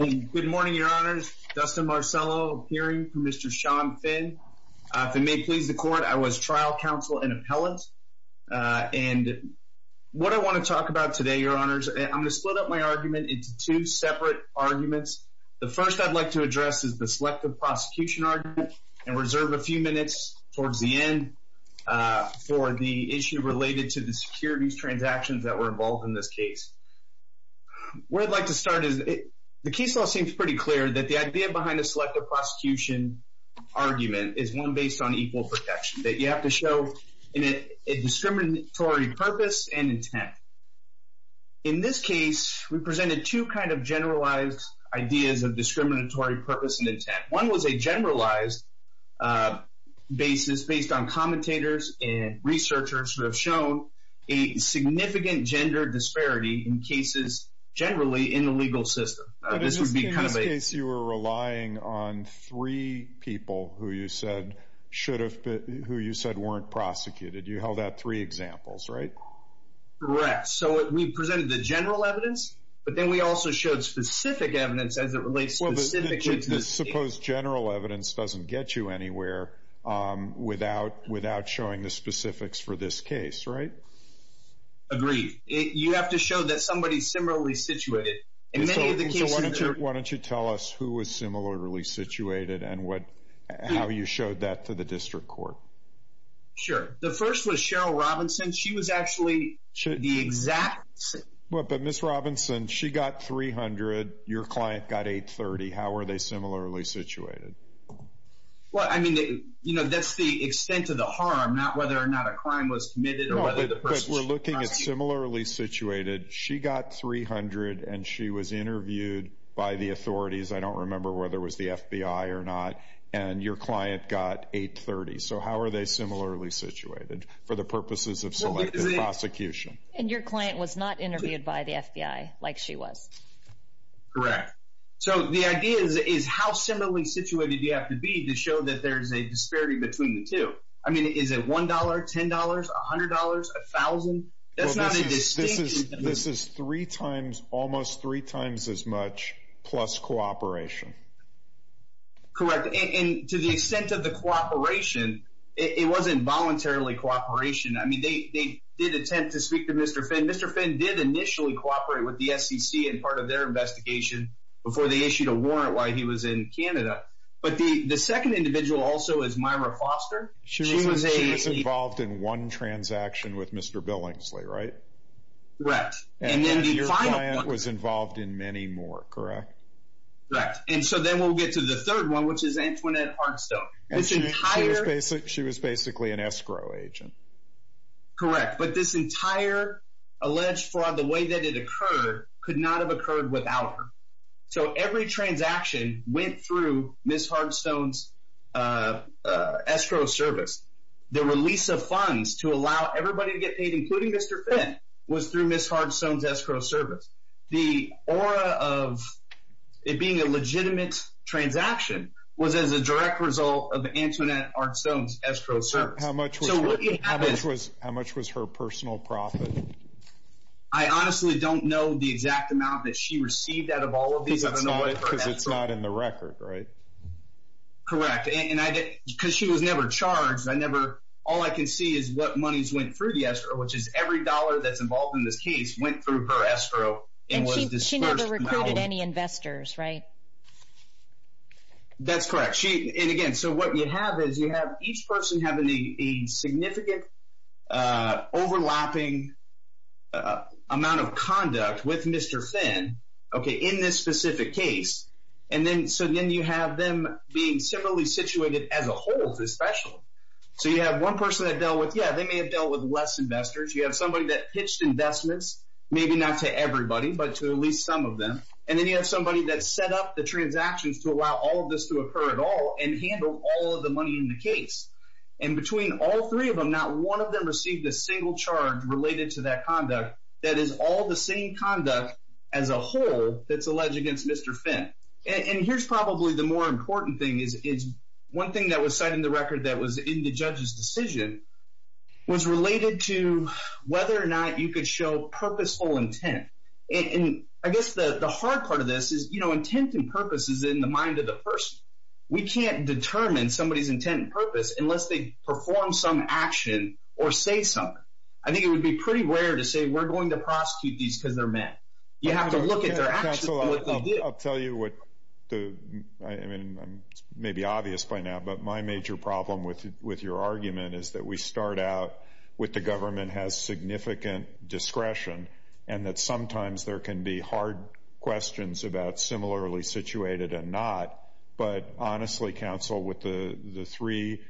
Good morning, Your Honors. Dustin Marcello appearing for Mr. Sean Finn. If it may please the court, I was trial counsel and appellant. And what I want to talk about today, Your Honors, I'm going to split up my argument into two separate arguments. The first I'd like to address is the selective prosecution argument and reserve a few minutes towards the end for the issue related to the securities transactions that were involved in this case. Where I'd like to start is the case law seems pretty clear that the idea behind a selective prosecution argument is one based on equal protection that you have to show in a discriminatory purpose and intent. In this case, we presented two kind of generalized ideas of discriminatory purpose and intent. One was a generalized basis based on commentators and researchers who have shown a significant gender disparity in cases generally in the legal system. This would be kind of a... In this case, you were relying on three people who you said should have been, who you said weren't prosecuted. You held out three examples, right? Correct. So we presented the general evidence, but then we also showed specific evidence as it did to the... Suppose general evidence doesn't get you anywhere without showing the specifics for this case, right? Agreed. You have to show that somebody's similarly situated in many of the cases... So why don't you tell us who was similarly situated and how you showed that to the district court? Sure. The first was Cheryl Robinson. She was actually the exact same... But Ms. Robinson, she got 300. Your client got 830. How are they similarly situated? Well, I mean, you know, that's the extent of the harm, not whether or not a crime was committed or whether the person... No, but we're looking at similarly situated. She got 300 and she was interviewed by the authorities. I don't remember whether it was the FBI or not. And your client got 830. So how are they similarly situated for the purposes of prosecution? And your client was not interviewed by the FBI like she was. Correct. So the idea is how similarly situated do you have to be to show that there's a disparity between the two? I mean, is it $1, $10, $100, $1,000? That's not a distinct... This is three times, almost three times as much plus cooperation. Correct. And to the extent of the cooperation, it wasn't voluntarily cooperation. I mean, they did attempt to speak to Mr. Finn. Mr. Finn did initially cooperate with the SEC in part of their investigation before they issued a warrant while he was in Canada. But the second individual also is Myra Foster. She was involved in one transaction with Mr. Billingsley, right? Right. And then your client was involved in many more, correct? Right. And so then we'll get to the third one, which is Antoinette Harnstone. She was basically an escrow agent. Correct. But this entire alleged fraud, the way that it occurred, could not have occurred without her. So every transaction went through Ms. Harnstone's escrow service. The release of funds to allow everybody to get paid, including Mr. Finn, was through Ms. Harnstone's escrow service. The aura of it being a legitimate transaction was as a direct result of Antoinette Harnstone's escrow service. How much was her personal profit? I honestly don't know the exact amount that she received out of all of these. Because it's not in the record, right? Correct. Because she was never charged. All I can see is what monies went through the escrow, which is every dollar that's involved in this case went through her escrow. And she never recruited any investors, right? That's correct. And again, so what you have is you have each person having a significant overlapping amount of conduct with Mr. Finn, okay, in this specific case. And then, so then you have them being similarly situated as a whole, especially. So you have one person that dealt with, yeah, they may have dealt with less investors. You have somebody that pitched investments, maybe not to everybody, but to at least some of them. And then you have somebody that set up the transactions to allow all of this to occur at all and handle all of the money in the case. And between all three of them, not one of them received a single charge related to that conduct that is all the same conduct as a whole that's alleged against Mr. Finn. And here's probably the more important thing is one thing that was cited in the record that was in the judge's decision was related to whether or not you could show purposeful intent. And I guess the hard part of this is, you know, intent and purpose is in the mind of the person. We can't determine somebody's intent and purpose unless they perform some action or say something. I think it would be pretty rare to say we're going to prosecute these because they're men. You have to look at their actions. I'll tell you what the, I mean, maybe obvious by now, but my major problem with your argument is that we start out with the government has significant discretion and that sometimes there can be hard questions about similarly situated and not. But honestly, counsel, with the three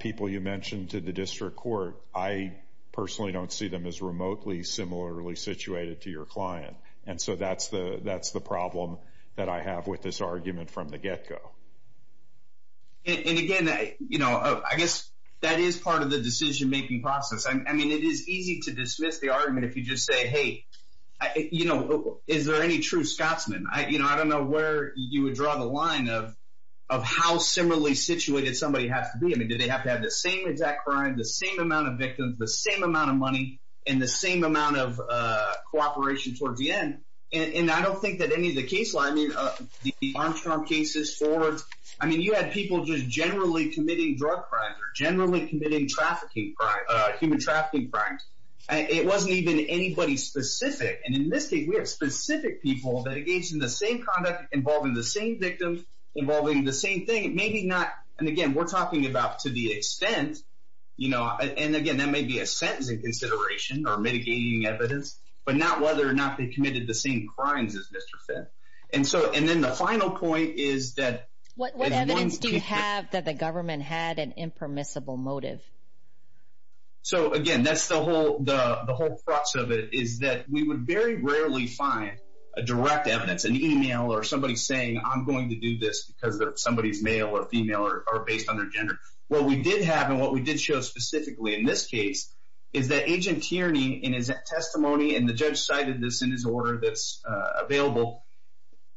people you mentioned to the district court, I personally don't see them as remotely similarly situated to your client. And so that's the problem that I have with this argument from the get-go. And again, you know, I guess that is part of the decision-making process. I mean, it is easy to dismiss the argument if you just say, hey, you know, is there any true Scotsman? I, you know, I don't know where you would draw the line of, of how similarly situated somebody has to be. I mean, do they have to have the same exact crime, the same amount of victims, the same amount of money and the same amount of cooperation towards the end? And I don't think that any of the case line, I mean, the Armstrong cases forwards, I mean, you had people just generally committing drug crimes or generally committing trafficking crimes, human trafficking crimes. It wasn't even anybody specific. And in this case, we have specific people that engaged in the same conduct involving the same victims involving the same thing. It may be not. And again, we're talking about to the extent, you know, and again, that may be a sentencing consideration or mitigating evidence, but not whether or not they committed the same crimes as Mr. Finn. And so, and then the final point is that... What evidence do you have that the government had an impermissible motive? So again, that's the whole, the whole crux of it is that we would very rarely find a direct evidence, an email or somebody saying, I'm going to do this because somebody's male or female or based on their gender. What we did have and what we did show specifically in this case is that Agent Tierney in his testimony, and the judge cited this in his order that's available,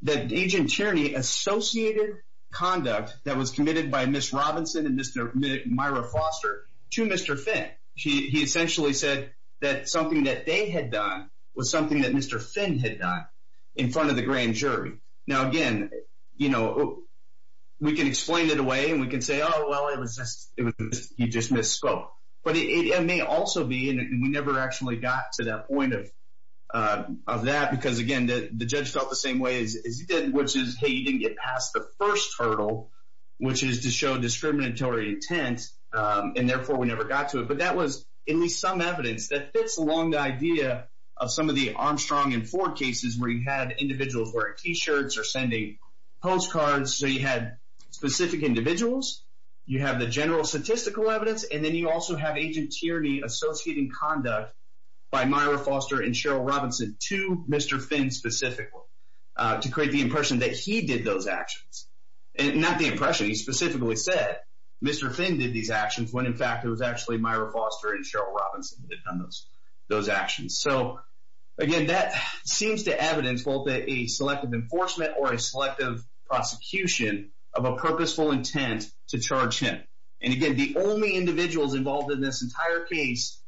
that Agent Tierney associated conduct that was committed by Ms. Robinson and Mr. Myra Foster to Mr. Finn. He essentially said that something that they had done was something that Mr. Finn had done in front of the grand jury. Now, again, you know, we can explain it away and we can say, oh, well, it was just, he just misspoke. But it may also be, and we never actually got to that point of that, because again, the judge felt the same way as he did, which is, hey, you didn't get past the first hurdle, which is to show discriminatory intent, and therefore we never got to it. But that was at least some evidence that fits along the idea of some of the Armstrong and Ford cases where you had individuals wearing t-shirts or sending postcards. So you had specific individuals, you have the general statistical evidence, and then you also have Agent Tierney associating conduct by Myra Foster and Cheryl Robinson to Mr. Finn specifically, to create the impression that he did those actions. And not the impression, he specifically said Mr. Finn did these actions when in fact it was actually Myra Foster and Cheryl Robinson who did those actions. So again, that seems to evidence both a selective enforcement or a selective prosecution of a purposeful intent to charge him. And again, the only individuals involved in this entire case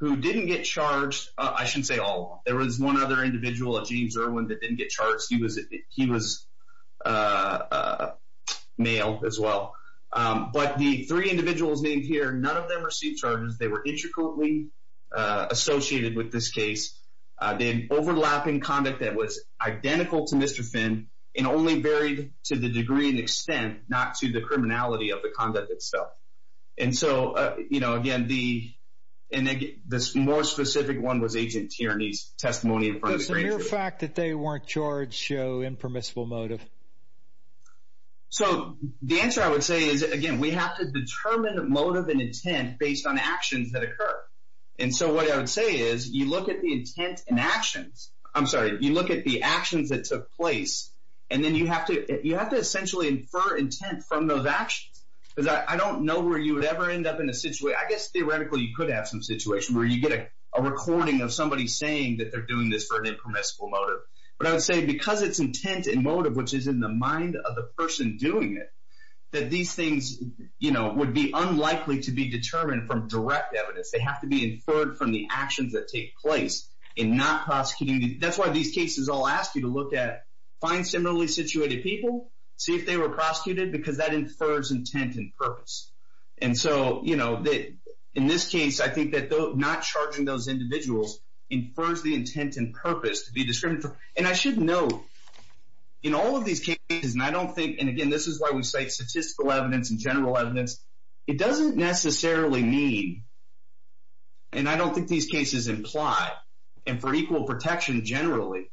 who didn't get charged, I shouldn't say all of them, there was one other individual, a James Irwin, that didn't get charged. He was male as well. But the three individuals named here, none of them received charges. They were intricately associated with this case. They had overlapping conduct that was identical to Mr. Finn and only varied to the degree and extent, not to the criminality of the conduct itself. And so, you know, again, this more specific one was Agent Tierney's testimony in front of the grand jury. Does the mere fact that they weren't charged show impermissible motive? So the answer I would say is, again, we have to determine motive and intent based on actions that took place. And then you have to essentially infer intent from those actions. Because I don't know where you would ever end up in a situation, I guess theoretically you could have some situation where you get a recording of somebody saying that they're doing this for an impermissible motive. But I would say because it's intent and motive, which is in the mind of the person doing it, that these things, you know, would be unlikely to be determined from direct evidence. They have to be inferred from the actions that take place in not prosecuting. That's why these cases I'll ask you to look at, find similarly situated people, see if they were prosecuted, because that infers intent and purpose. And so, you know, in this case, I think that not charging those individuals infers the intent and purpose to be discriminatory. And I should note, in all of these cases, and I don't think, and again, this is why we cite statistical evidence and general evidence, it doesn't necessarily mean, and I don't think these cases imply, and for equal protection generally,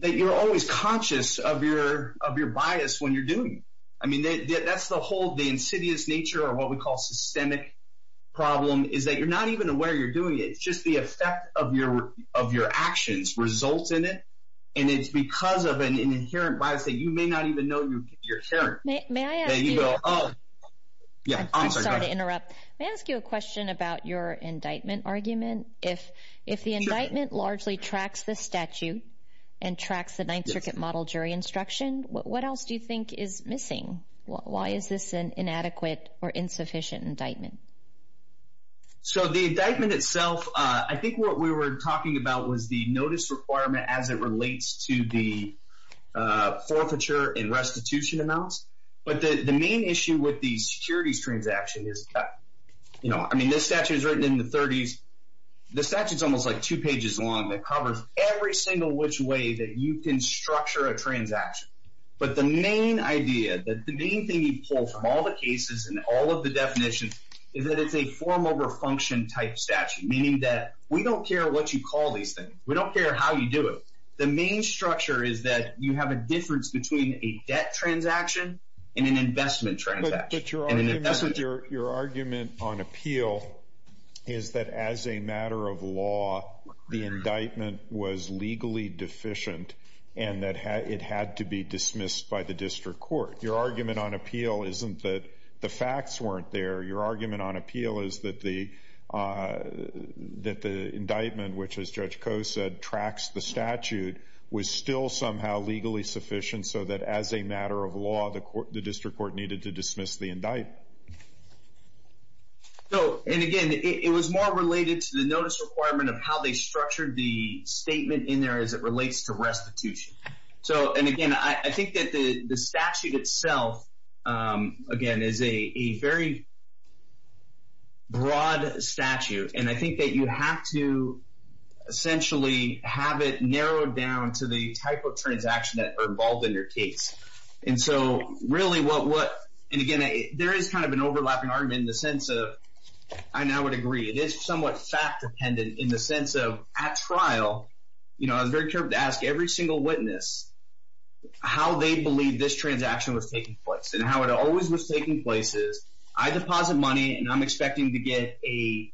that you're always conscious of your bias when you're doing. I mean, that's the whole, the insidious nature of what we call systemic problem is that you're not even aware you're doing it. It's just the effect of your actions results in it. And it's because of an inherent bias that you may not even know you're sharing. Yeah, I'm sorry to interrupt. May I ask you a question about your indictment argument? If the indictment largely tracks the statute and tracks the Ninth Circuit Model Jury Instruction, what else do you think is missing? Why is this an inadequate or insufficient indictment? So the indictment itself, I think what we were talking about was the notice requirement as it relates to the forfeiture and restitution amounts. But the main issue with the securities transaction is that, you know, I mean, this statute is written in the 30s. The statute is almost like two pages long that covers every single which way that you can structure a transaction. But the main idea that the main thing you pull from all the cases and all of the definitions is that it's a form over function type statute, meaning that we don't care what you call these things. We don't care how you do it. The main structure is that you have a difference between a debt transaction and an investment transaction. But your argument on appeal is that as a matter of law, the indictment was legally deficient and that it had to be dismissed by the district court. Your argument on appeal isn't that the facts weren't there. Your indictment, which, as Judge Koh said, tracks the statute, was still somehow legally sufficient so that as a matter of law, the district court needed to dismiss the indictment. So, and again, it was more related to the notice requirement of how they structured the statement in there as it relates to restitution. So, and again, I think that the statute itself, again, is a very broad statute. And I think that you have to essentially have it narrowed down to the type of transaction that are involved in your case. And so, really, what, and again, there is kind of an overlapping argument in the sense of, I now would agree, it is somewhat fact-dependent in the sense of at trial, you know, I was very careful to ask every single witness how they believe this transaction was taking place and how it always was taking place is I deposit money and I'm expecting to get a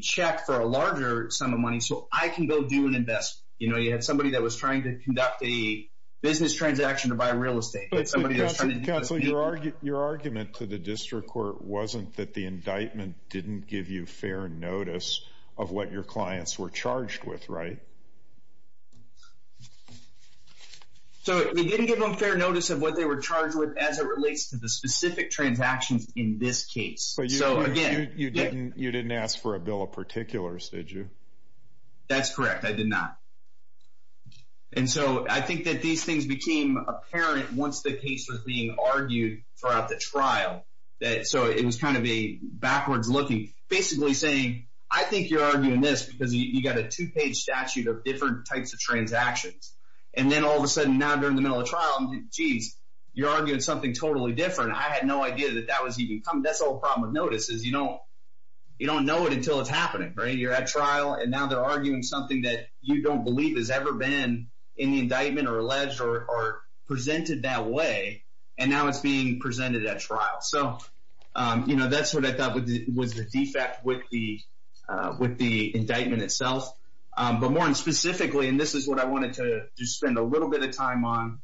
check for a larger sum of money so I can go do an investment. You know, you had somebody that was trying to conduct a business transaction to buy real estate. But somebody else... Counsel, your argument to the district court wasn't that the indictment didn't give you fair notice of what your clients were charged with, right? No. So, it didn't give them fair notice of what they were charged with as it relates to the specific transactions in this case. So, again... But you didn't ask for a bill of particulars, did you? That's correct. I did not. And so, I think that these things became apparent once the case was being argued throughout the trial. So, it was kind of a backwards-looking, basically saying, I think you're arguing this because you got a two-page statute of different types of and then all of a sudden now during the middle of trial, geez, you're arguing something totally different. I had no idea that that was even coming. That's the whole problem with notice is you don't know it until it's happening, right? You're at trial and now they're arguing something that you don't believe has ever been in the indictment or alleged or presented that way and now it's being presented at trial. So, you know, that's what I thought was the defect with with the indictment itself. But more specifically, and this is what I wanted to just spend a little bit of time on,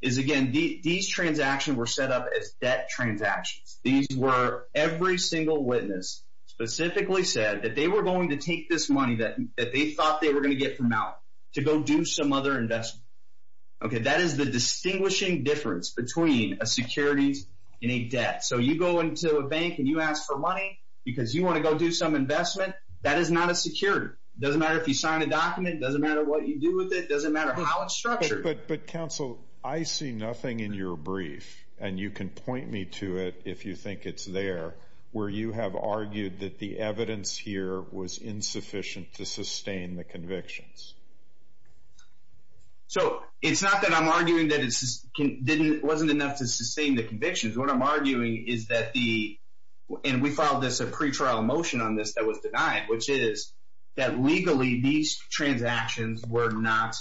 is again, these transactions were set up as debt transactions. These were every single witness specifically said that they were going to take this money that they thought they were going to get from out to go do some other investment. Okay, that is the distinguishing difference between a securities and a debt. So, you go into a bank and you ask for money because you want to go do some investment. That is not a security. It doesn't matter if you sign a document. It doesn't matter what you do with it. It doesn't matter how it's structured. But counsel, I see nothing in your brief and you can point me to it if you think it's there where you have argued that the evidence here was insufficient to sustain the convictions. So, it's not that I'm arguing that it wasn't enough to sustain the convictions. What I'm pretrial motion on this that was denied, which is that legally these transactions were not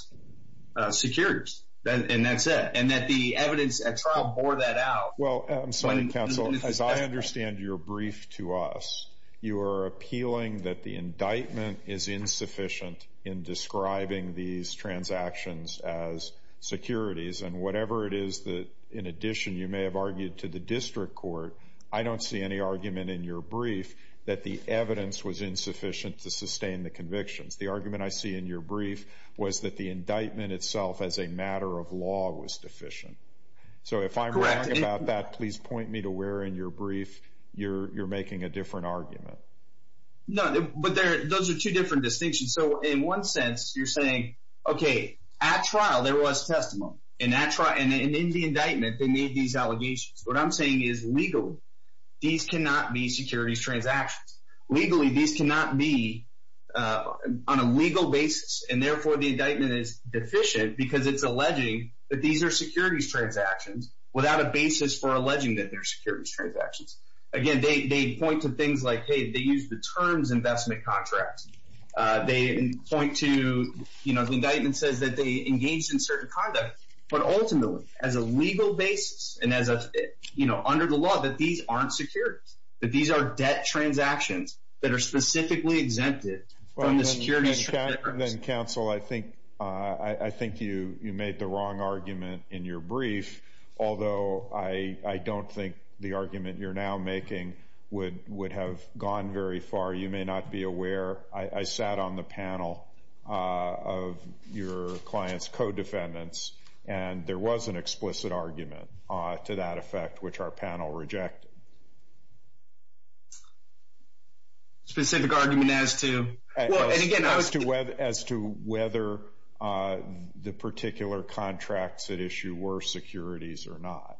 securities. And that's it. And that the evidence at trial bore that out. Well, I'm sorry, counsel, as I understand your brief to us, you are appealing that the indictment is insufficient in describing these transactions as securities and whatever it is that in addition you may have that the evidence was insufficient to sustain the convictions. The argument I see in your brief was that the indictment itself as a matter of law was deficient. So, if I'm right about that, please point me to where in your brief you're making a different argument. No, but those are two different distinctions. So, in one sense, you're saying, okay, at trial, there was testimony. And in the indictment, they made these allegations. What I'm saying is, legally, these cannot be securities transactions. Legally, these cannot be on a legal basis. And therefore, the indictment is deficient because it's alleging that these are securities transactions without a basis for alleging that they're securities transactions. Again, they point to things like, hey, they use the terms investment contracts. They point to, you know, the indictment says that they engaged in certain conduct. But ultimately, as a legal basis and as a, you know, under the law, that these aren't securities, that these are debt transactions that are specifically exempted from the securities. Then, counsel, I think you made the wrong argument in your brief, although I don't think the argument you're now making would have gone very far. You may not be aware. I sat on the panel of your client's co-defendants, and there was an explicit argument to that effect, which our panel rejected. Specific argument as to? As to whether the particular contracts at issue were securities or not.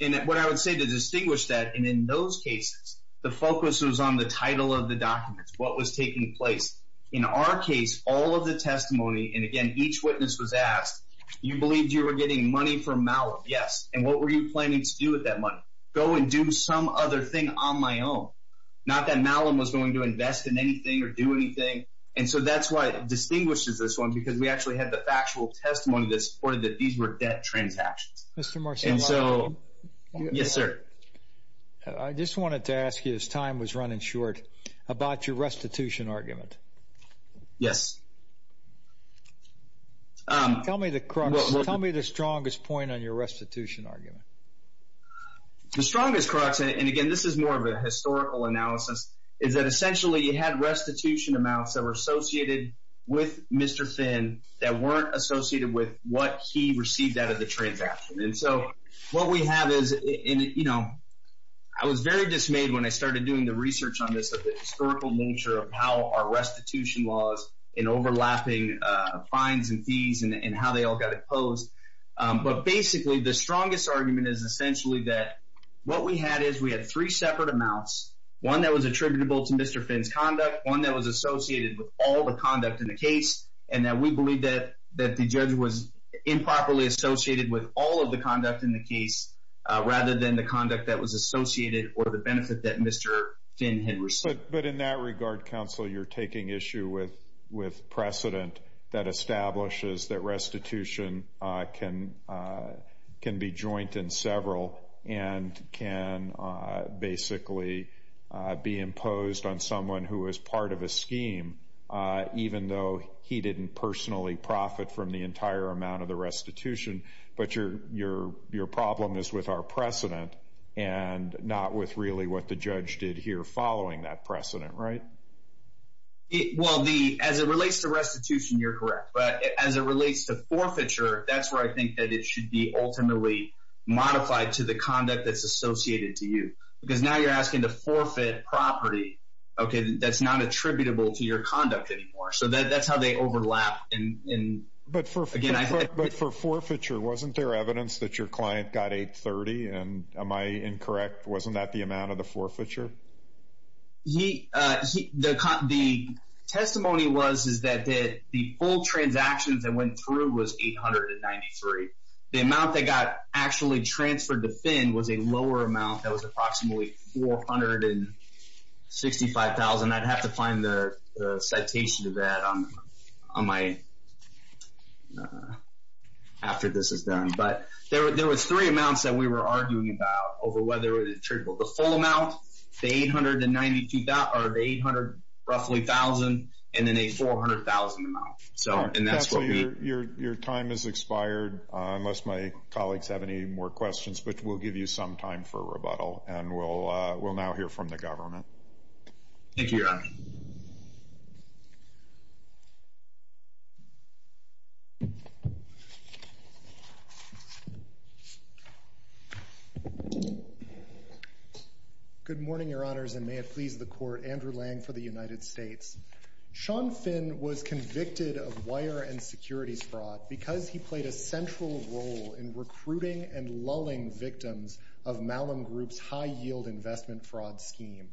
And what I would say to distinguish that, and in those cases, the focus was on the title of documents, what was taking place. In our case, all of the testimony, and again, each witness was asked, you believed you were getting money from Malum, yes. And what were you planning to do with that money? Go and do some other thing on my own. Not that Malum was going to invest in anything or do anything. And so that's why it distinguishes this one, because we actually had the factual testimony that supported that these were debt transactions. Mr. Marcellino. And so, yes, sir. I just wanted to ask you, as time was running short, about your restitution argument. Yes. Tell me the strongest point on your restitution argument. The strongest crux, and again, this is more of a historical analysis, is that essentially you had restitution amounts that were associated with Mr. Finn that weren't associated with what he received out of the transaction. And so what we have is, I was very dismayed when I started doing the research on this, of the historical nature of how our restitution laws and overlapping fines and fees and how they all got opposed. But basically, the strongest argument is essentially that what we had is we had three separate amounts, one that was attributable to Mr. Finn's conduct, one that was associated with all the conduct in the case, and that we believe that the judge was improperly associated with all of the conduct in the case rather than the conduct that was associated or the benefit that Mr. Finn had received. But in that regard, counsel, you're taking issue with precedent that establishes that restitution can be joint in several and can basically be imposed on someone who is part of a scheme. Even though he didn't personally profit from the entire amount of the restitution, but your problem is with our precedent and not with really what the judge did here following that precedent, right? Well, as it relates to restitution, you're correct. But as it relates to forfeiture, that's where I think that it should be ultimately modified to the conduct that's associated to you. Because now you're asking to forfeit property that's not attributable to your conduct anymore. So that's how they overlap. But for forfeiture, wasn't there evidence that your client got 830? And am I incorrect? Wasn't that the amount of the forfeiture? The testimony was that the full transactions that went through was 893. The amount that got actually transferred to Finn was a lower amount that was approximately $465,000. I'd have to find the citation of that after this is done. But there was three amounts that we were arguing about over whether it was attributable. The full amount, the $892,000 or the $800,000, roughly $1,000, and then a $400,000 amount. Your time has expired, unless my colleagues have any more questions. But we'll give you some time for rebuttal. And we'll now hear from the government. Good morning, Your Honors, and may it please the Court. Andrew Lang for the United States. Sean Finn was convicted of wire and securities fraud because he played a central role in victims of Malum Group's high-yield investment fraud scheme.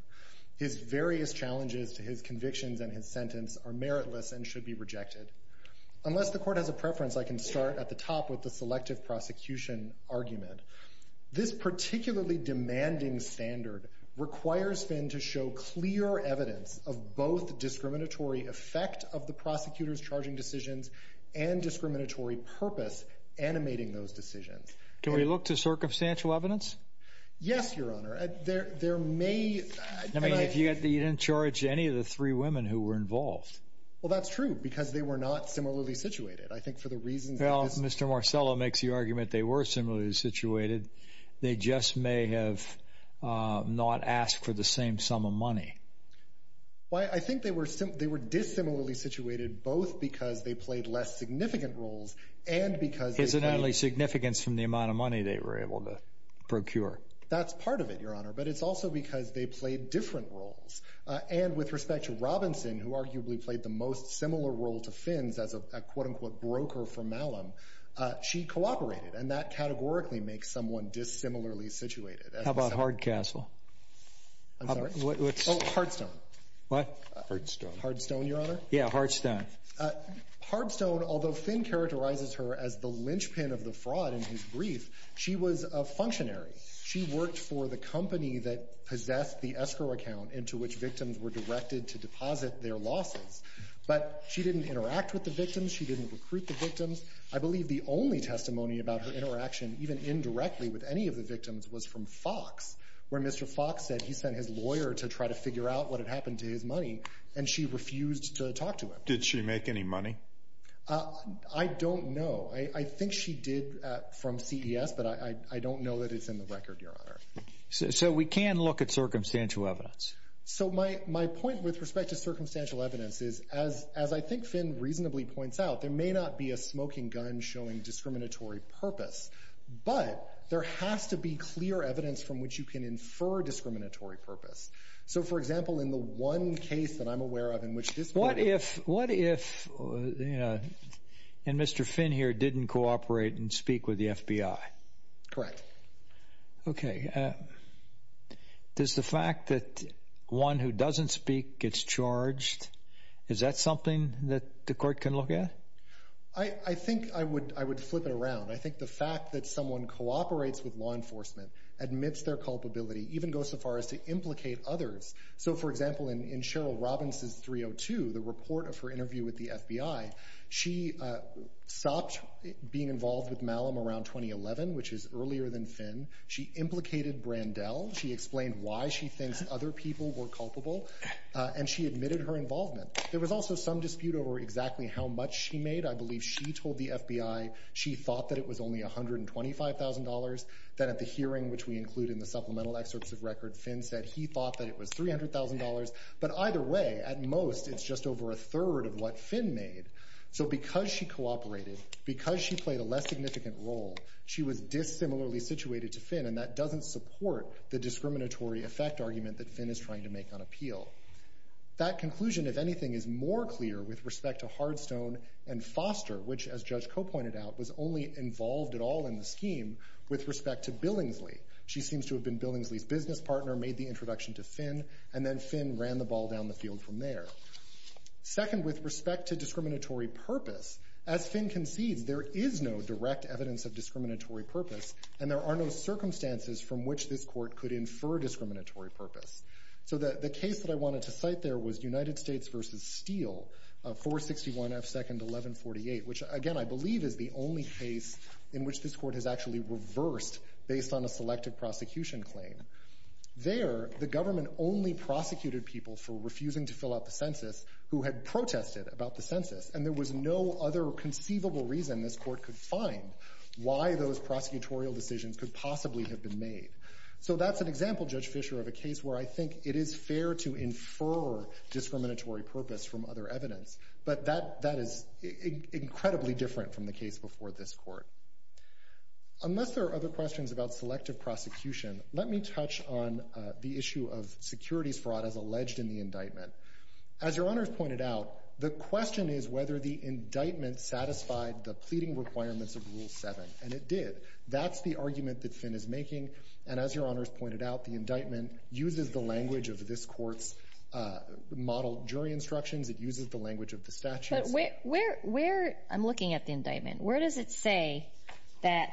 His various challenges to his convictions and his sentence are meritless and should be rejected. Unless the Court has a preference, I can start at the top with the selective prosecution argument. This particularly demanding standard requires Finn to show clear evidence of both discriminatory effect of the prosecutor's charging decisions and discriminatory purpose animating those decisions. Can we look to circumstantial evidence? Yes, Your Honor. There may... I mean, if you didn't charge any of the three women who were involved. Well, that's true, because they were not similarly situated. I think for the reasons... Well, Mr. Marcello makes the argument they were similarly situated. They just may have not asked for the same sum of money. Well, I think they were dissimilarly situated both because they played less significant roles and because... Incidentally, significance from the amount of money they were able to procure. That's part of it, Your Honor. But it's also because they played different roles. And with respect to Robinson, who arguably played the most similar role to Finn's as a quote-unquote broker for Malum, she cooperated. And that categorically makes someone dissimilarly situated. How about Hardcastle? I'm sorry? Oh, Hardstone. What? Hardstone. Hardstone, Your Honor? Yeah, Hardstone. Hardstone, although Finn characterizes her as the linchpin of the fraud in his brief, she was a functionary. She worked for the company that possessed the escrow account into which victims were directed to deposit their losses. But she didn't interact with the victims. She didn't recruit the victims. I believe the only testimony about her interaction, even indirectly with any of the victims, was from Fox, where Mr. Fox said he sent his lawyer to try to figure out what had happened to his money, and she refused to talk to him. Did she make any money? I don't know. I think she did from CES, but I don't know that it's in the record, Your Honor. So we can look at circumstantial evidence. So my point with respect to circumstantial evidence is, as I think Finn reasonably points out, there may not be a smoking gun showing discriminatory purpose. But there has to be clear evidence from which you can infer discriminatory purpose. So, for example, in the one case that I'm aware of in which this— What if Mr. Finn here didn't cooperate and speak with the FBI? Correct. Okay. Does the fact that one who doesn't speak gets charged, is that something that the court can look at? I think I would flip it around. I think the fact that someone cooperates with law enforcement, admits their culpability, even goes so far as to implicate others. So, for example, in Cheryl Robbins' 302, the report of her interview with the FBI, she stopped being involved with Malum around 2011, which is earlier than Finn. She implicated Brandel. She explained why she thinks other people were culpable, and she admitted her involvement. There was also some dispute over exactly how much she made. I believe she told the FBI she thought that it was only $125,000. Then at the hearing, which we include in the supplemental excerpts of record, Finn said he thought that it was $300,000. But either way, at most, it's just over a third of what Finn made. So because she cooperated, because she played a less significant role, she was dissimilarly situated to Finn, and that doesn't support the discriminatory effect argument that Finn is trying to make on appeal. That conclusion, if anything, is more clear with respect to Hardstone and Foster, which, as Judge Koh pointed out, was only involved at all in the scheme with respect to Billingsley. She seems to have been Billingsley's business partner, made the introduction to Finn, and then Finn ran the ball down the field from there. Second, with respect to discriminatory purpose, as Finn concedes, there is no direct evidence of discriminatory purpose, and there are no circumstances from which this Court could infer discriminatory purpose. So the case that I wanted to cite there was United States v. Steele, 461 F. 2nd 1148, which, again, I believe is the only case in which this Court has actually reversed based on a selective prosecution claim. There, the government only prosecuted people for refusing to fill out the census who had protested about the census, and there was no other conceivable reason this Court could find why those prosecutorial decisions could possibly have been made. So that's an example, Judge Fischer, of a case where I think it is fair to infer discriminatory purpose from other evidence, but that is incredibly different from the case before this Court. Unless there are other questions about selective prosecution, let me touch on the issue of securities fraud as alleged in the indictment. As Your Honors pointed out, the question is whether the indictment satisfied the pleading requirements of Rule 7, and it did. That's the argument that Finn is making, and as Your Honors pointed out, the indictment uses the language of this Court's modeled jury instructions. It uses the language of the statute. Where, I'm looking at the indictment. Where does it say that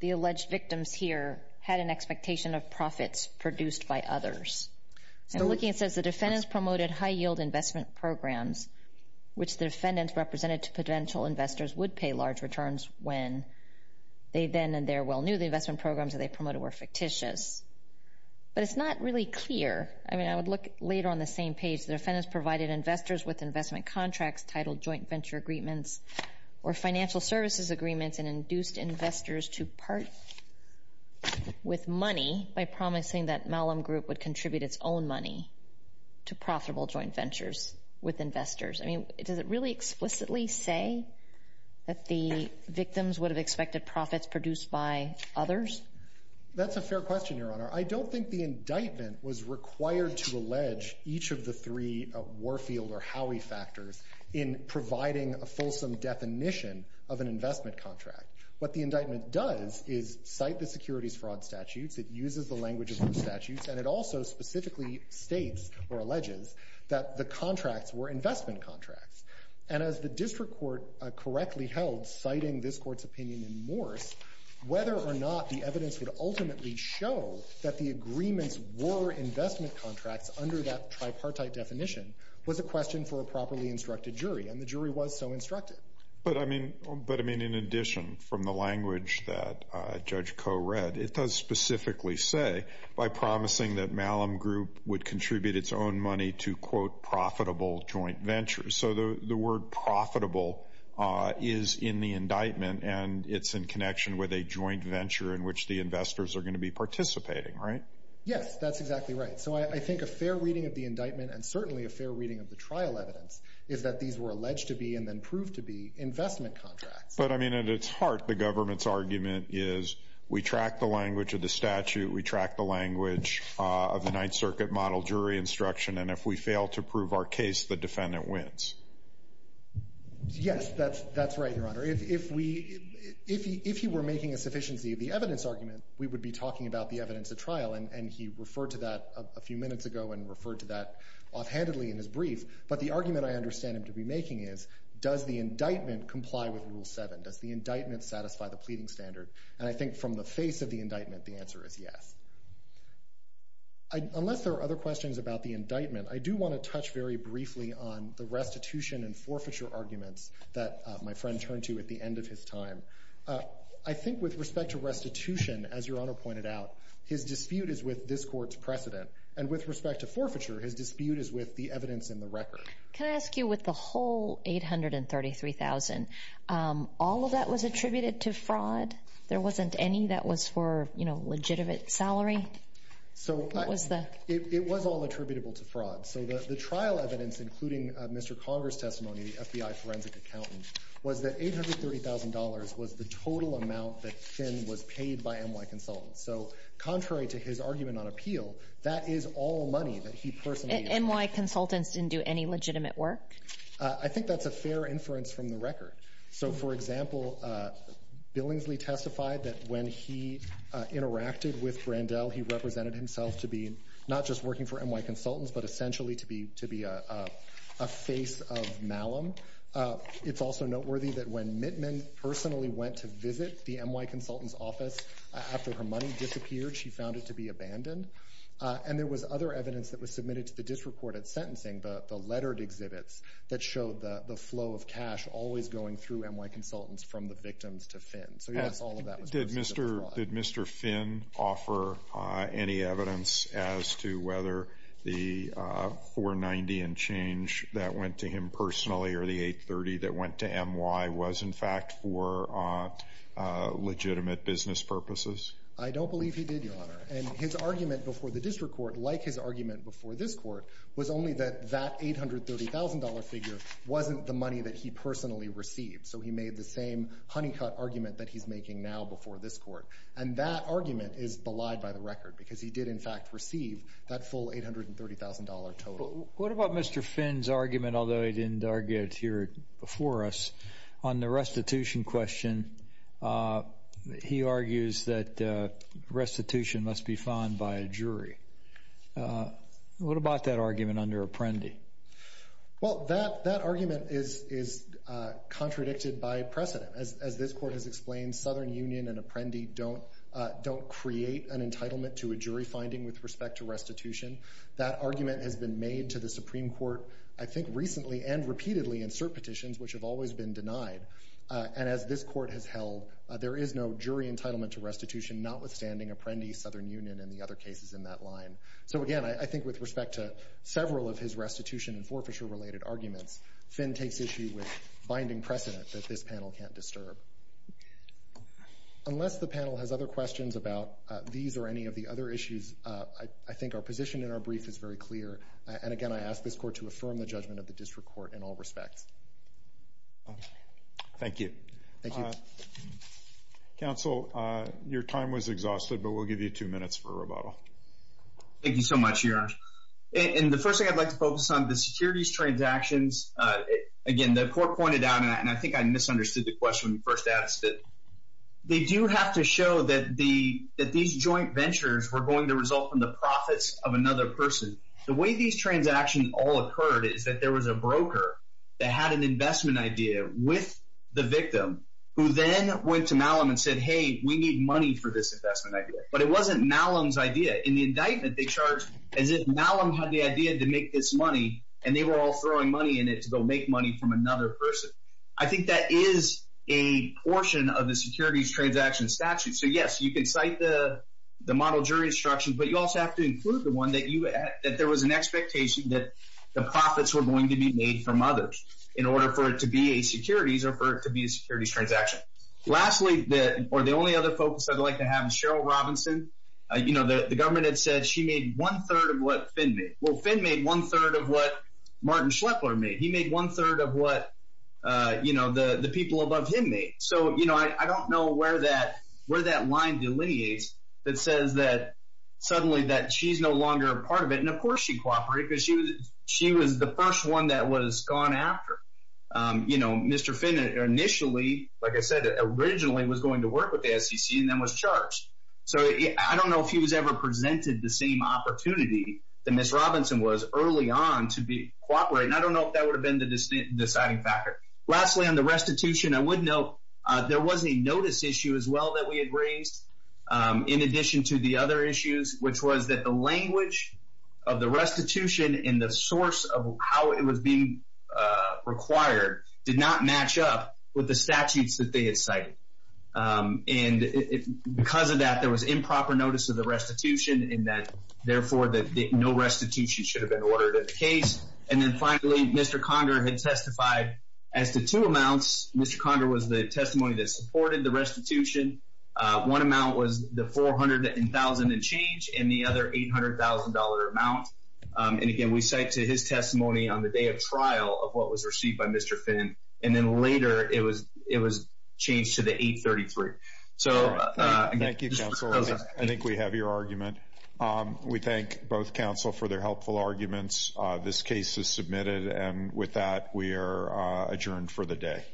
the alleged victims here had an expectation of profits produced by others? So looking, it says the defendants promoted high-yield investment programs, which the defendants represented to potential investors would pay large returns when they then and there well knew the investment programs that they promoted were fictitious. But it's not really clear. I mean, I would look later on the same page. The defendants provided investors with investment contracts titled joint venture agreements or financial services agreements and induced investors to part with money by promising that Malum Group would contribute its own money to profitable joint ventures with investors. I mean, does it really explicitly say that the victims would have expected profits produced by others? That's a fair question, Your Honor. I don't think the indictment was required to allege each of the three Warfield or Howey factors in providing a fulsome definition of an investment contract. What the indictment does is cite the securities fraud statutes. It uses the language of those statutes. And it also specifically states or alleges that the contracts were investment contracts. And as the district court correctly held, citing this Court's opinion in Morse, whether or not the evidence would ultimately show that the agreements were investment contracts under that tripartite definition was a question for a properly instructed jury. And the jury was so instructed. But I mean, in addition, from the language that Judge Koh read, it does specifically say by promising that Malum Group would contribute its own money to, quote, profitable joint ventures. So the word profitable is in the indictment, and it's in connection with a joint venture in which the investors are going to be participating, right? Yes, that's exactly right. So I think a fair reading of the indictment and certainly a fair reading of the trial evidence is that these were alleged to be and then proved to be investment contracts. But I mean, at its heart, the government's argument is we track the language of the statute. We track the language of the Ninth Circuit model jury instruction. And if we fail to prove our case, the defendant wins. Yes, that's right, Your Honor. If we if he were making a sufficiency of the evidence argument, we would be talking about the evidence at trial. And he referred to that a few minutes ago and referred to that offhandedly in his brief. But the argument I understand him to be making is, does the indictment comply with Rule 7? Does the indictment satisfy the pleading standard? And I think from the face of the indictment, the answer is yes. Unless there are other questions about the indictment, I do want to touch very briefly on the restitution and forfeiture arguments that my friend turned to at the end of his time. I think with respect to restitution, as Your Honor pointed out, his dispute is with this court's precedent. And with respect to forfeiture, his dispute is with the evidence in the record. Can I ask you with the whole $833,000, all of that was attributed to fraud? There wasn't any that was for, you know, legitimate salary? So it was all attributable to fraud. So the trial evidence, including Mr. Conger's testimony, the FBI forensic accountant, was that $833,000 was the total amount that Finn was paid by NY Consultants. So contrary to his argument on appeal, that is all money that he personally. NY Consultants didn't do any legitimate work? I think that's a fair inference from the record. So, for example, Billingsley testified that when he interacted with Brandel, he represented himself to be not just working for NY Consultants, but essentially to be a face of malum. It's also noteworthy that when Mittman personally went to visit the NY Consultants' office after her money disappeared, she found it to be abandoned. And there was other evidence that was submitted to the disreported sentencing, the lettered through NY Consultants from the victims to Finn. So yes, all of that was personal fraud. Did Mr. Finn offer any evidence as to whether the $490,000 and change that went to him personally or the $830,000 that went to NY was, in fact, for legitimate business purposes? I don't believe he did, Your Honor. And his argument before the district court, like his argument before this court, was only that that $830,000 figure wasn't the money that he personally received. So he made the same honeycut argument that he's making now before this court. And that argument is belied by the record, because he did, in fact, receive that full $830,000 total. What about Mr. Finn's argument, although he didn't argue it here before us, on the restitution question? He argues that restitution must be found by a jury. What about that argument under Apprendi? Well, that argument is contradicted by precedent. As this court has explained, Southern Union and Apprendi don't create an entitlement to a jury finding with respect to restitution. That argument has been made to the Supreme Court, I think, recently and repeatedly in cert petitions, which have always been denied. And as this court has held, there is no jury entitlement to restitution, notwithstanding Apprendi, Southern Union, and the other cases in that line. So again, I think with respect to several of his restitution and forfeiture-related arguments, Finn takes issue with binding precedent that this panel can't disturb. Unless the panel has other questions about these or any of the other issues, I think our position in our brief is very clear. And again, I ask this court to affirm the judgment of the district court in all respects. Thank you. Thank you. Thank you. Counsel, your time was exhausted, but we'll give you two minutes for rebuttal. Thank you so much, Your Honor. And the first thing I'd like to focus on, the securities transactions. Again, the court pointed out, and I think I misunderstood the question when you first asked it, they do have to show that these joint ventures were going to result in the profits of another person. The way these transactions all occurred is that there was a broker that had an investment idea with the victim who then went to Malum and said, hey, we need money for this investment idea. But it wasn't Malum's idea. In the indictment, they charged as if Malum had the idea to make this money, and they were all throwing money in it to go make money from another person. I think that is a portion of the securities transaction statute. So yes, you can cite the model jury instructions, but you also have to include the one that there was an expectation that the profits were going to be made from others in order for it to be a securities or for it to be a securities transaction. Lastly, or the only other focus I'd like to have, Cheryl Robinson, the government had said she made one third of what Finn made. Well, Finn made one third of what Martin Schlepler made. He made one third of what the people above him made. So I don't know where that line delineates that says that suddenly that she's no longer a part of it. And of course, she cooperated because she was the first one that was gone after. You know, Mr. Finn initially, like I said, originally was going to work with the SEC and then was charged. So I don't know if he was ever presented the same opportunity that Ms. Robinson was early on to be cooperating. I don't know if that would have been the deciding factor. Lastly, on the restitution, I would note there was a notice issue as well that we had raised in addition to the other issues, which was that the language of the restitution and the did not match up with the statutes that they had cited. And because of that, there was improper notice of the restitution in that, therefore, that no restitution should have been ordered in the case. And then finally, Mr. Conger had testified as to two amounts. Mr. Conger was the testimony that supported the restitution. One amount was the $400,000 and change and the other $800,000 amount. And again, we cite to his testimony on the day of trial of what was received by Mr. Finn. And then later it was it was changed to the $833,000. So thank you. I think we have your argument. We thank both counsel for their helpful arguments. This case is submitted. And with that, we are adjourned for the day.